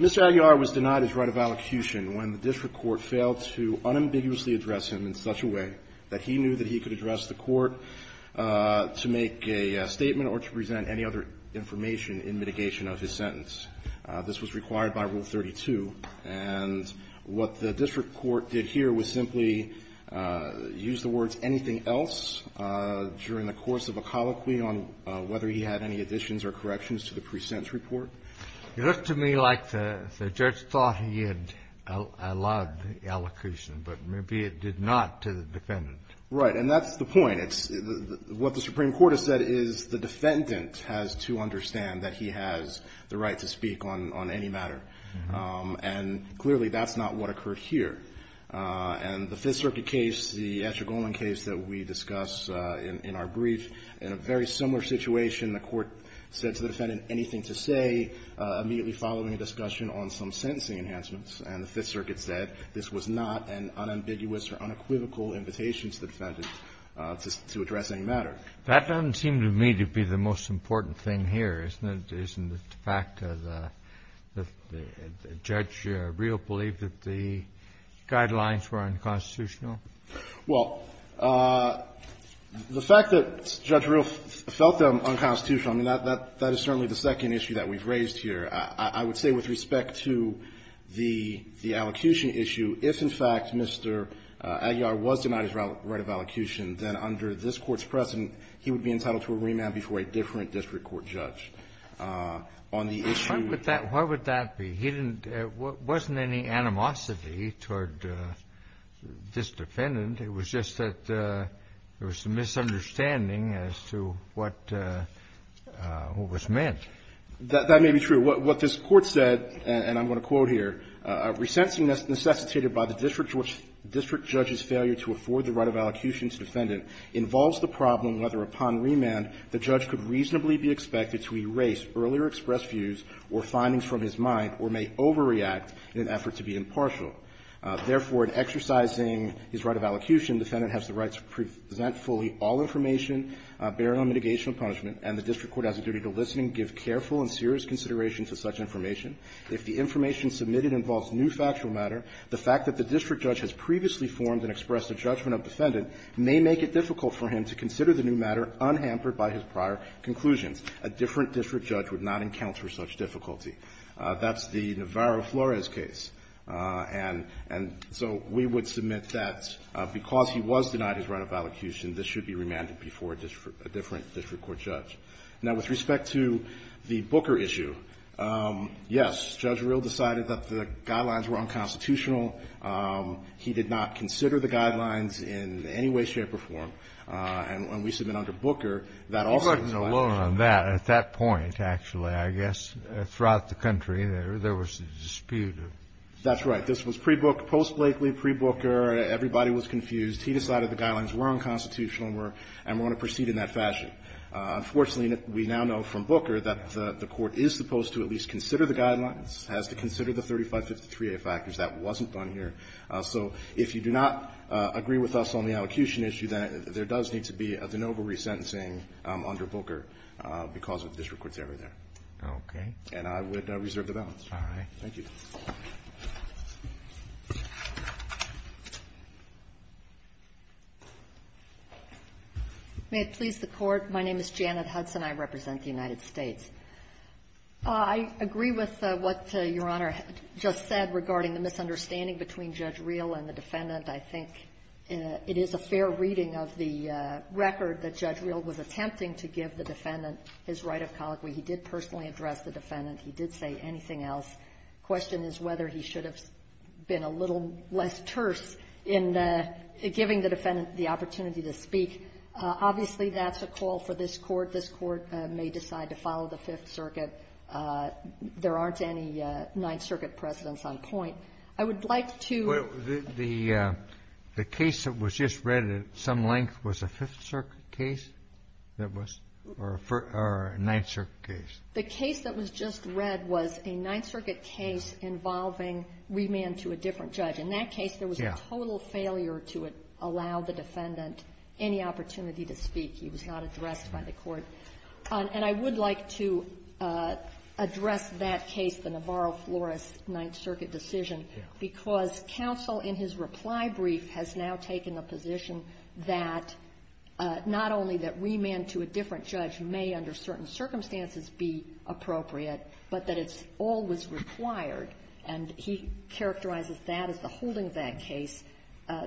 Mr. Aguilar was denied his right of allocution when the district court failed to unambiguously address him in such a way that he knew that he could address the court to make a statement or to present any other information in mitigation of his sentence. This was required by Rule No. 32. And what the district court did here was simply use the words, anything else, during the course of a colloquy on whether he had any additions or corrections to the present report. Kennedy It looked to me like the judge thought he had allowed the allocution, but maybe it did not to the defendant. Aguilar Right. And that's the point. It's the — what the Supreme Court has said is the defendant has to understand that he has the right to speak on any matter. And clearly, that's not what occurred here. And the Fifth Circuit case, the Escher-Goland case that we discuss in our brief, in a very similar situation, the court said to the defendant, anything to say, immediately following a discussion on some sentencing enhancements. And the Fifth Circuit said this was not an unambiguous or unequivocal invitation to the defendant to address any matter. Kennedy That doesn't seem to me to be the most important thing here, isn't it, isn't it, the fact that Judge Real believed that the guidelines Aguilar Well, the fact that Judge Real felt them unconstitutional, I mean, that is certainly the second issue that we've raised here. I would say with respect to the allocution issue, if, in fact, Mr. Aguilar was denied his right of allocution, then under this Court's precedent, he would be entitled to a remand before a different district court judge. On the issue of the law. Kennedy What would that be? He didn't – wasn't any animosity toward this defendant. It was just that there was some misunderstanding as to what was meant. Verrilli, That may be true. What this Court said, and I'm going to quote here, a resentment necessitated by the district judge's failure to afford the right of allocution to the defendant involves the problem whether, upon remand, the judge could reasonably be expected to erase earlier expressed views or findings from his mind or may overreact in an effort to be impartial. Therefore, in exercising his right of allocution, the defendant has the right to present fully all information, bear no mitigation of punishment, and the district court has a duty to listen and give careful and serious consideration to such information. If the information submitted involves new factual matter, the fact that the district judge has previously formed and expressed a judgment of defendant may make it difficult for him to consider the new matter unhampered by his prior conclusions. A different district judge would not encounter such difficulty. That's the Navarro-Flores case. And so we would submit that because he was denied his right of allocution, this should be remanded before a different district court judge. Now, with respect to the Booker issue, yes, Judge Verrilli decided that the guidelines were unconstitutional. He did not consider the guidelines in any way, shape, or form. And when we submit under Booker, that also is a violation. Kennedy. He wasn't alone on that. At that point, actually, I guess, throughout the country, there was a dispute. Verrilli. That's right. This was pre-Booker, post-Blakely, pre-Booker. Everybody was confused. He decided the guidelines were unconstitutional and were going to proceed in that fashion. Unfortunately, we now know from Booker that the Court is supposed to at least consider the guidelines, has to consider the 3553A factors. That wasn't done here. So if you do not agree with us on the allocution issue, then there does need to be a de novo resentencing under Booker because of the district court's error there. Kennedy. Okay. Verrilli. And I would reserve the balance. Kennedy. All right. Verrilli. Thank you. Hudson. May it please the Court. My name is Janet Hudson. I represent the United States. I agree with what Your Honor just said regarding the misunderstanding between Judge Reel and the defendant. I think it is a fair reading of the record that Judge Reel was attempting to give the defendant his right of colloquy. He did personally address the defendant. He did say anything else. The question is whether he should have been a little Obviously, that's a call for this Court. This Court may decide to follow the Fifth Circuit. There aren't any Ninth Circuit precedents on point. I would like to ---- Kennedy. The case that was just read at some length was a Fifth Circuit case that was or a Ninth Circuit case. Hudson. The case that was just read was a Ninth Circuit case involving remand to a different judge. In that case, there was a total failure to allow the defendant any opportunity to speak. He was not addressed by the Court. And I would like to address that case, the Navarro-Flores Ninth Circuit decision, because counsel in his reply brief has now taken a position that not only that remand to a different judge may under certain circumstances be appropriate, but that it's always required, and he characterizes that as the holding of that case.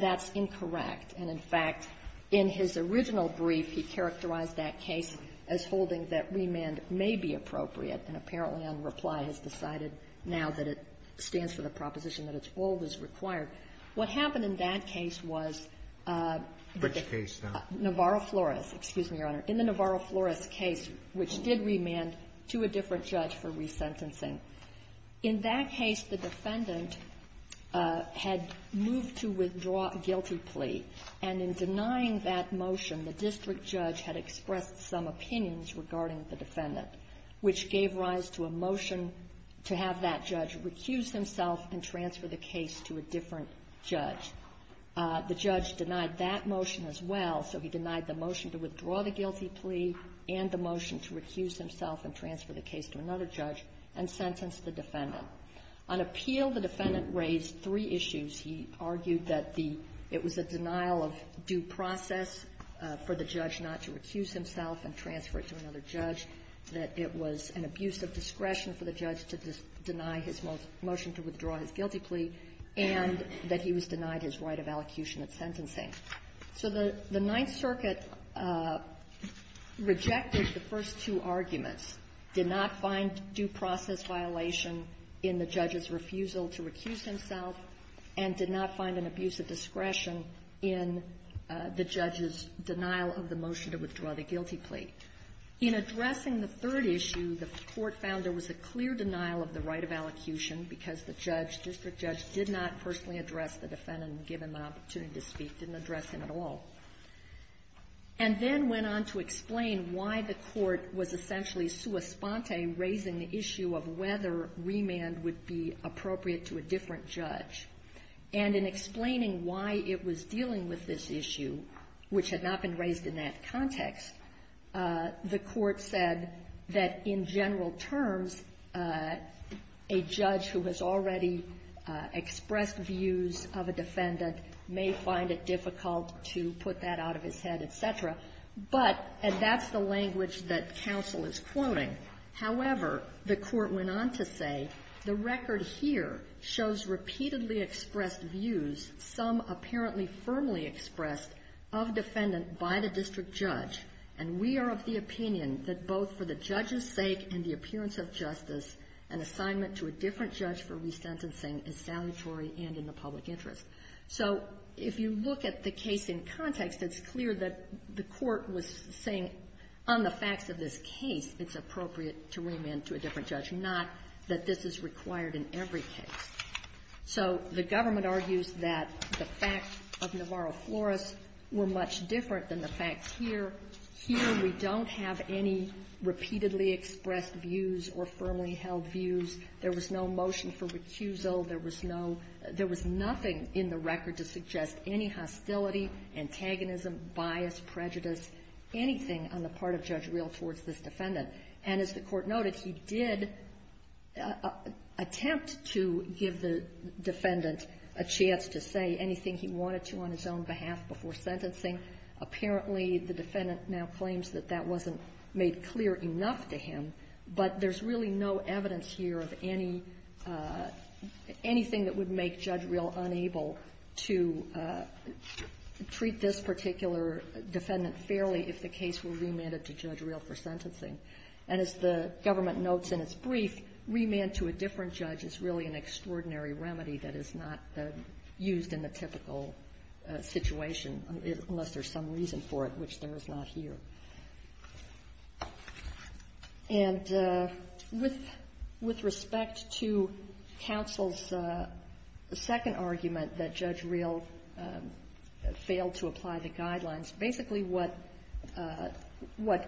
That's incorrect. And, in fact, in his original brief, he characterized that case as holding that remand may be appropriate, and apparently on reply has decided now that it stands for the proposition that it's always required. What happened in that case was the Navarro-Flores. Excuse me, Your Honor. In the Navarro-Flores case, which did remand to a different judge for resentencing, in that case, the defendant had moved to withdraw a guilty plea. And in denying that motion, the district judge had expressed some opinions regarding the defendant, which gave rise to a motion to have that judge recuse himself and transfer the case to a different judge. The judge denied that motion as well, so he denied the motion to withdraw the guilty plea and the motion to recuse himself and transfer the case to another judge and sentence the defendant. On appeal, the defendant raised three issues. He argued that the – it was a denial of due process for the judge not to recuse himself and transfer it to another judge, that it was an abuse of discretion for the judge to deny his motion to withdraw his guilty plea, and that he was denied his right of allocution at sentencing. So the Ninth Circuit rejected the first two arguments, did not find due process violation in the judge's refusal to recuse himself, and did not find an abuse of discretion in the judge's denial of the motion to withdraw the guilty plea. In addressing the third issue, the Court found there was a clear denial of the right of allocution because the judge, district judge, did not personally address the defendant and give him an opportunity to speak, didn't address him at all, and then went on to explain why the Court was essentially sui sponte, raising the issue of whether remand would be appropriate to a different judge. And in explaining why it was dealing with this issue, which had not been raised in that context, the Court said that, in general terms, a judge who has already may find it difficult to put that out of his head, et cetera. But, and that's the language that counsel is quoting. However, the Court went on to say, the record here shows repeatedly expressed views, some apparently firmly expressed, of defendant by the district judge, and we are of the opinion that both for the judge's sake and the appearance of justice, an assignment to a different judge for resentencing is salutary and in the public interest. So if you look at the case in context, it's clear that the Court was saying on the facts of this case it's appropriate to remand to a different judge, not that this is required in every case. So the government argues that the facts of Navarro-Flores were much different than the facts here. Here, we don't have any repeatedly expressed views or firmly held views. There was no motion for recusal. There was no – there was nothing in the record to suggest any hostility, antagonism, bias, prejudice, anything on the part of Judge Reel towards this defendant. And as the Court noted, he did attempt to give the defendant a chance to say anything he wanted to on his own behalf before sentencing. Apparently, the defendant now claims that that wasn't made clear enough to him. But there's really no evidence here of any – anything that would make Judge Reel unable to treat this particular defendant fairly if the case were remanded to Judge Reel for sentencing. And as the government notes in its brief, remand to a different judge is really an extraordinary remedy that is not used in the typical situation, unless there's some reason for it, which there is not here. And with respect to counsel's second argument that Judge Reel failed to apply the guidelines, basically what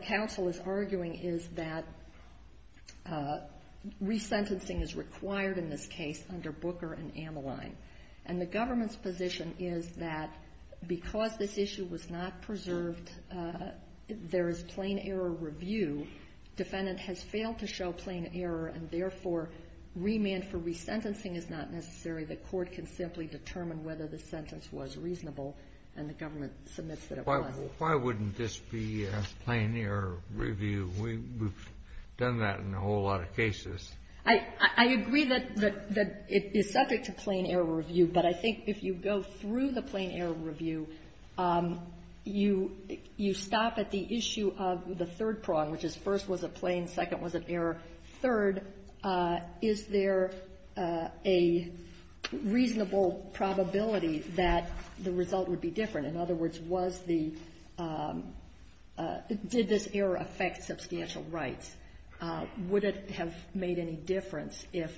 counsel is arguing is that resentencing is required in this case under Booker and Ameline. And the government's position is that because this issue was not preserved, there is plain-error review. Defendant has failed to show plain error, and therefore, remand for resentencing is not necessary. The Court can simply determine whether the sentence was reasonable and the government submits that it was. Kennedy, why wouldn't this be a plain-error review? We've done that in a whole lot of cases. I agree that it is subject to plain-error review, but I think if you go through the plain-error review, you stop at the issue of the third prong, which is first was a plain, second was an error, third, is there a reasonable probability that the result would be different? In other words, was the — did this error affect substantial rights? Would it have made any difference if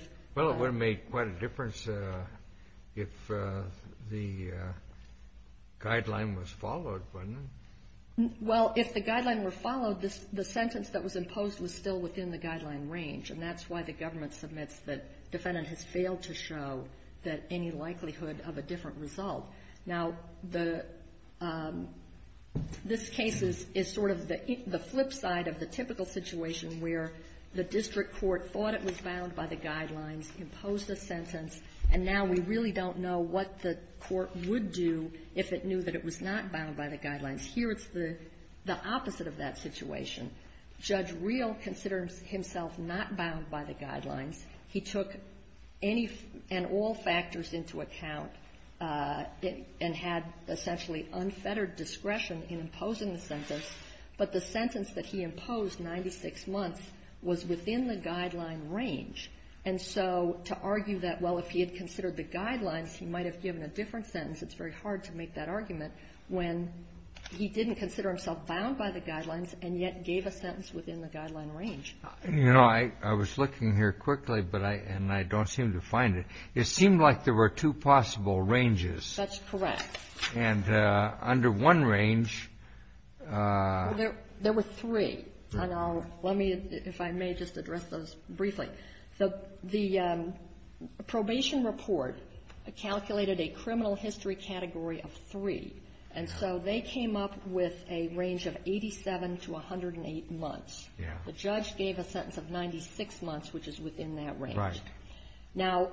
— Guideline was followed, wasn't it? Well, if the guideline were followed, the sentence that was imposed was still within the guideline range. And that's why the government submits that defendant has failed to show that any likelihood of a different result. Now, the — this case is sort of the flip side of the typical situation where the district court thought it was bound by the guidelines, imposed a sentence, and now we really don't know what the court would do if the district court thought it was bound by the guidelines. Here, it's the opposite of that situation. Judge Reel considers himself not bound by the guidelines. He took any and all factors into account and had essentially unfettered discretion in imposing the sentence, but the sentence that he imposed 96 months was within the guideline range. And so to argue that, well, if he had considered the guidelines, he might have given a different sentence, it's very hard to make that argument, when he didn't consider himself bound by the guidelines and yet gave a sentence within the guideline range. You know, I was looking here quickly, but I — and I don't seem to find it. It seemed like there were two possible ranges. That's correct. And under one range — There were three. And I'll — let me, if I may, just address those briefly. The probation report calculated a criminal history category of three, and so they came up with a range of 87 to 108 months. Yeah. The judge gave a sentence of 96 months, which is within that range. Right. Now,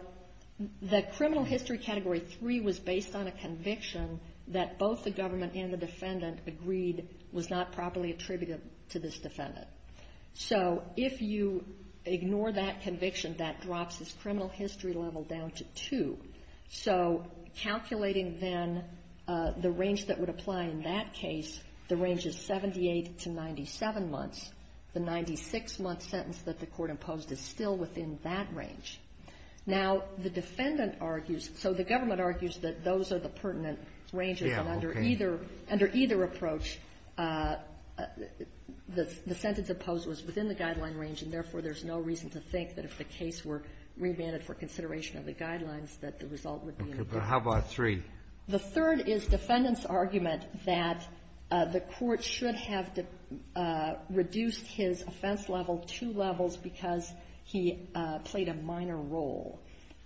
the criminal history category three was based on a conviction that both the government and the defendant agreed was not properly attributed to this defendant. So if you ignore that conviction, that drops his criminal history level down to two. So calculating, then, the range that would apply in that case, the range is 78 to 97 months. The 96-month sentence that the Court imposed is still within that range. Now, the defendant argues — so the government argues that those are the pertinent ranges. Yeah, okay. So under either — under either approach, the sentence imposed was within the guideline range, and therefore, there's no reason to think that if the case were remanded for consideration of the guidelines, that the result would be a difference. Okay. But how about three? The third is defendant's argument that the Court should have reduced his offense level two levels because he played a minor role.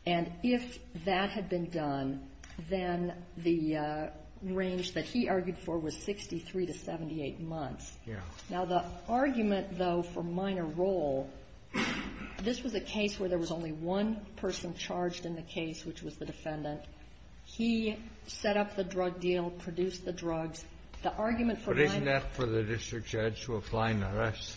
And if that had been done, then the range that he argued for was 63 to 78 months. Yeah. Now, the argument, though, for minor role, this was a case where there was only one person charged in the case, which was the defendant. He set up the drug deal, produced the drugs. The argument for minor role — But isn't that for the district judge to apply in the rest?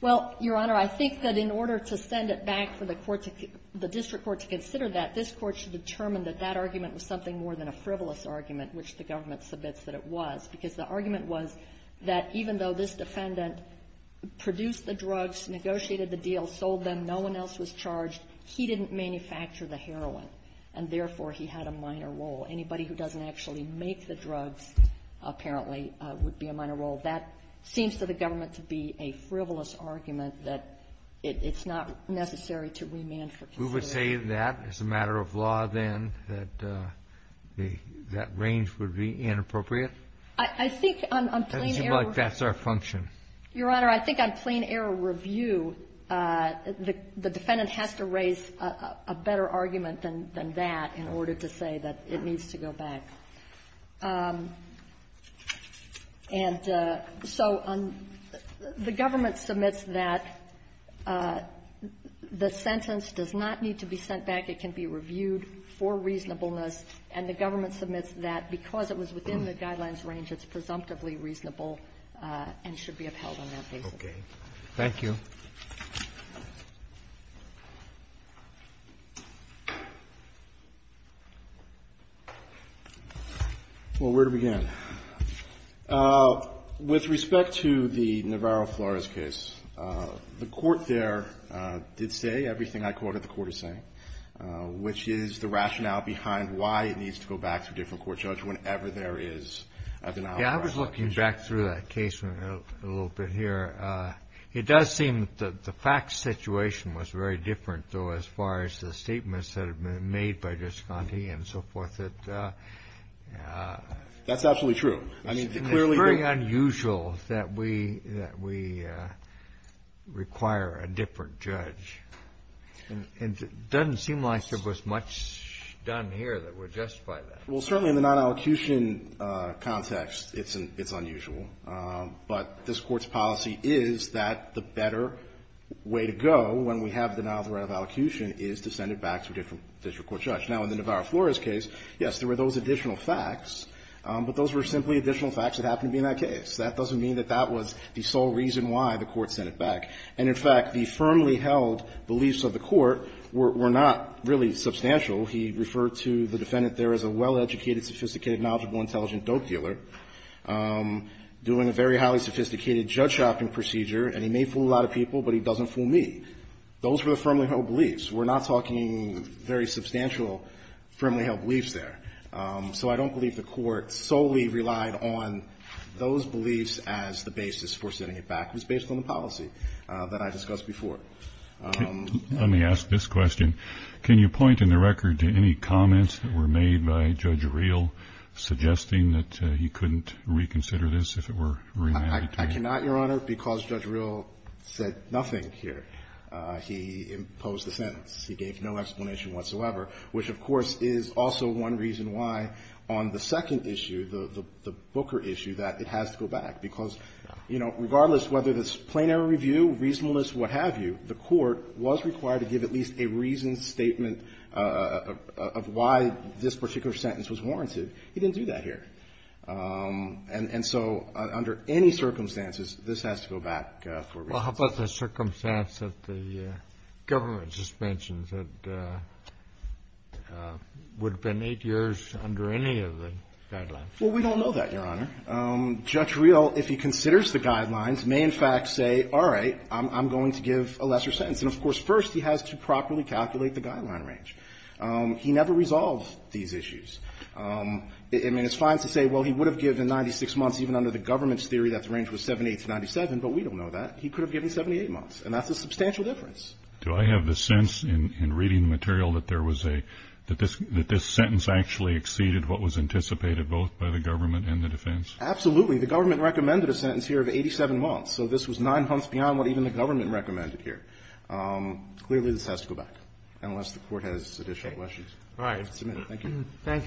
Well, Your Honor, I think that in order to send it back for the court to — the district court to consider that, this Court should determine that that argument was something more than a frivolous argument, which the government submits that it was, because the argument was that even though this defendant produced the drugs, negotiated the deal, sold them, no one else was charged, he didn't manufacture the heroin, and therefore, he had a minor role. Anybody who doesn't actually make the drugs, apparently, would be a minor role. That seems to the government to be a frivolous argument that it's not necessary to remand for consideration. We would say that as a matter of law, then, that the — that range would be inappropriate? I think on plain-error — It doesn't seem like that's our function. Your Honor, I think on plain-error review, the defendant has to raise a better argument than that in order to say that it needs to go back. And so the government submits that the sentence does not need to be sent back. It can be reviewed for reasonableness. And the government submits that because it was within the guidelines range, it's presumptively reasonable and should be upheld on that basis. Okay. Thank you. Well, where to begin? With respect to the Navarro-Flores case, the Court there did say everything I quoted the Court as saying, which is the rationale behind why it needs to go back to a different court judge whenever there is a denial of rationality. Yeah, I was looking back through that case a little bit here. It does seem that the facts situation was very different, though, as far as the statements that have been made by Gisconti and so forth, that — That's absolutely true. I mean, clearly — It's very unusual that we — that we require a different judge. And it doesn't seem like there was much done here that would justify that. Well, certainly in the non-allocution context, it's unusual. But this Court's policy is that the better way to go when we have denial of the right of allocution is to send it back to a different district court judge. Now, in the Navarro-Flores case, yes, there were those additional facts, but those were simply additional facts that happened to be in that case. That doesn't mean that that was the sole reason why the Court sent it back. And in fact, the firmly held beliefs of the Court were not really substantial. He referred to the defendant there as a well-educated, sophisticated, knowledgeable, intelligent dope dealer, doing a very highly sophisticated judge shopping procedure, and he may fool a lot of people, but he doesn't fool me. Those were the firmly held beliefs. We're not talking very substantial firmly held beliefs there. So I don't believe the Court solely relied on those beliefs as the basis for sending it back. It was based on the policy that I discussed before. Let me ask this question. Can you point in the record to any comments that were made by Judge Real suggesting that he couldn't reconsider this if it were remanded to him? I cannot, Your Honor, because Judge Real said nothing here. He imposed the sentence. He gave no explanation whatsoever, which, of course, is also one reason why on the second issue, the Booker issue, that it has to go back, because, you know, regardless whether it's plenary review, reasonableness, what have you, the Court was required to give at least a reasoned statement of why this particular sentence was warranted. He didn't do that here. And so under any circumstances, this has to go back for reasons. Well, how about the circumstance of the government suspensions that would have been eight years under any of the guidelines? Well, we don't know that, Your Honor. Judge Real, if he considers the guidelines, may in fact say, all right, I'm going to give a lesser sentence. And, of course, first he has to properly calculate the guideline range. He never resolved these issues. I mean, it's fine to say, well, he would have given 96 months even under the government's theory that the range was 78 to 97, but we don't know that. He could have given 78 months, and that's a substantial difference. Do I have the sense in reading the material that there was a – that this sentence actually exceeded what was anticipated both by the government and the defense? Absolutely. The government recommended a sentence here of 87 months. So this was nine months beyond what even the government recommended here. Clearly, this has to go back, unless the Court has additional questions. All right. Thank you. Thank you, counsel.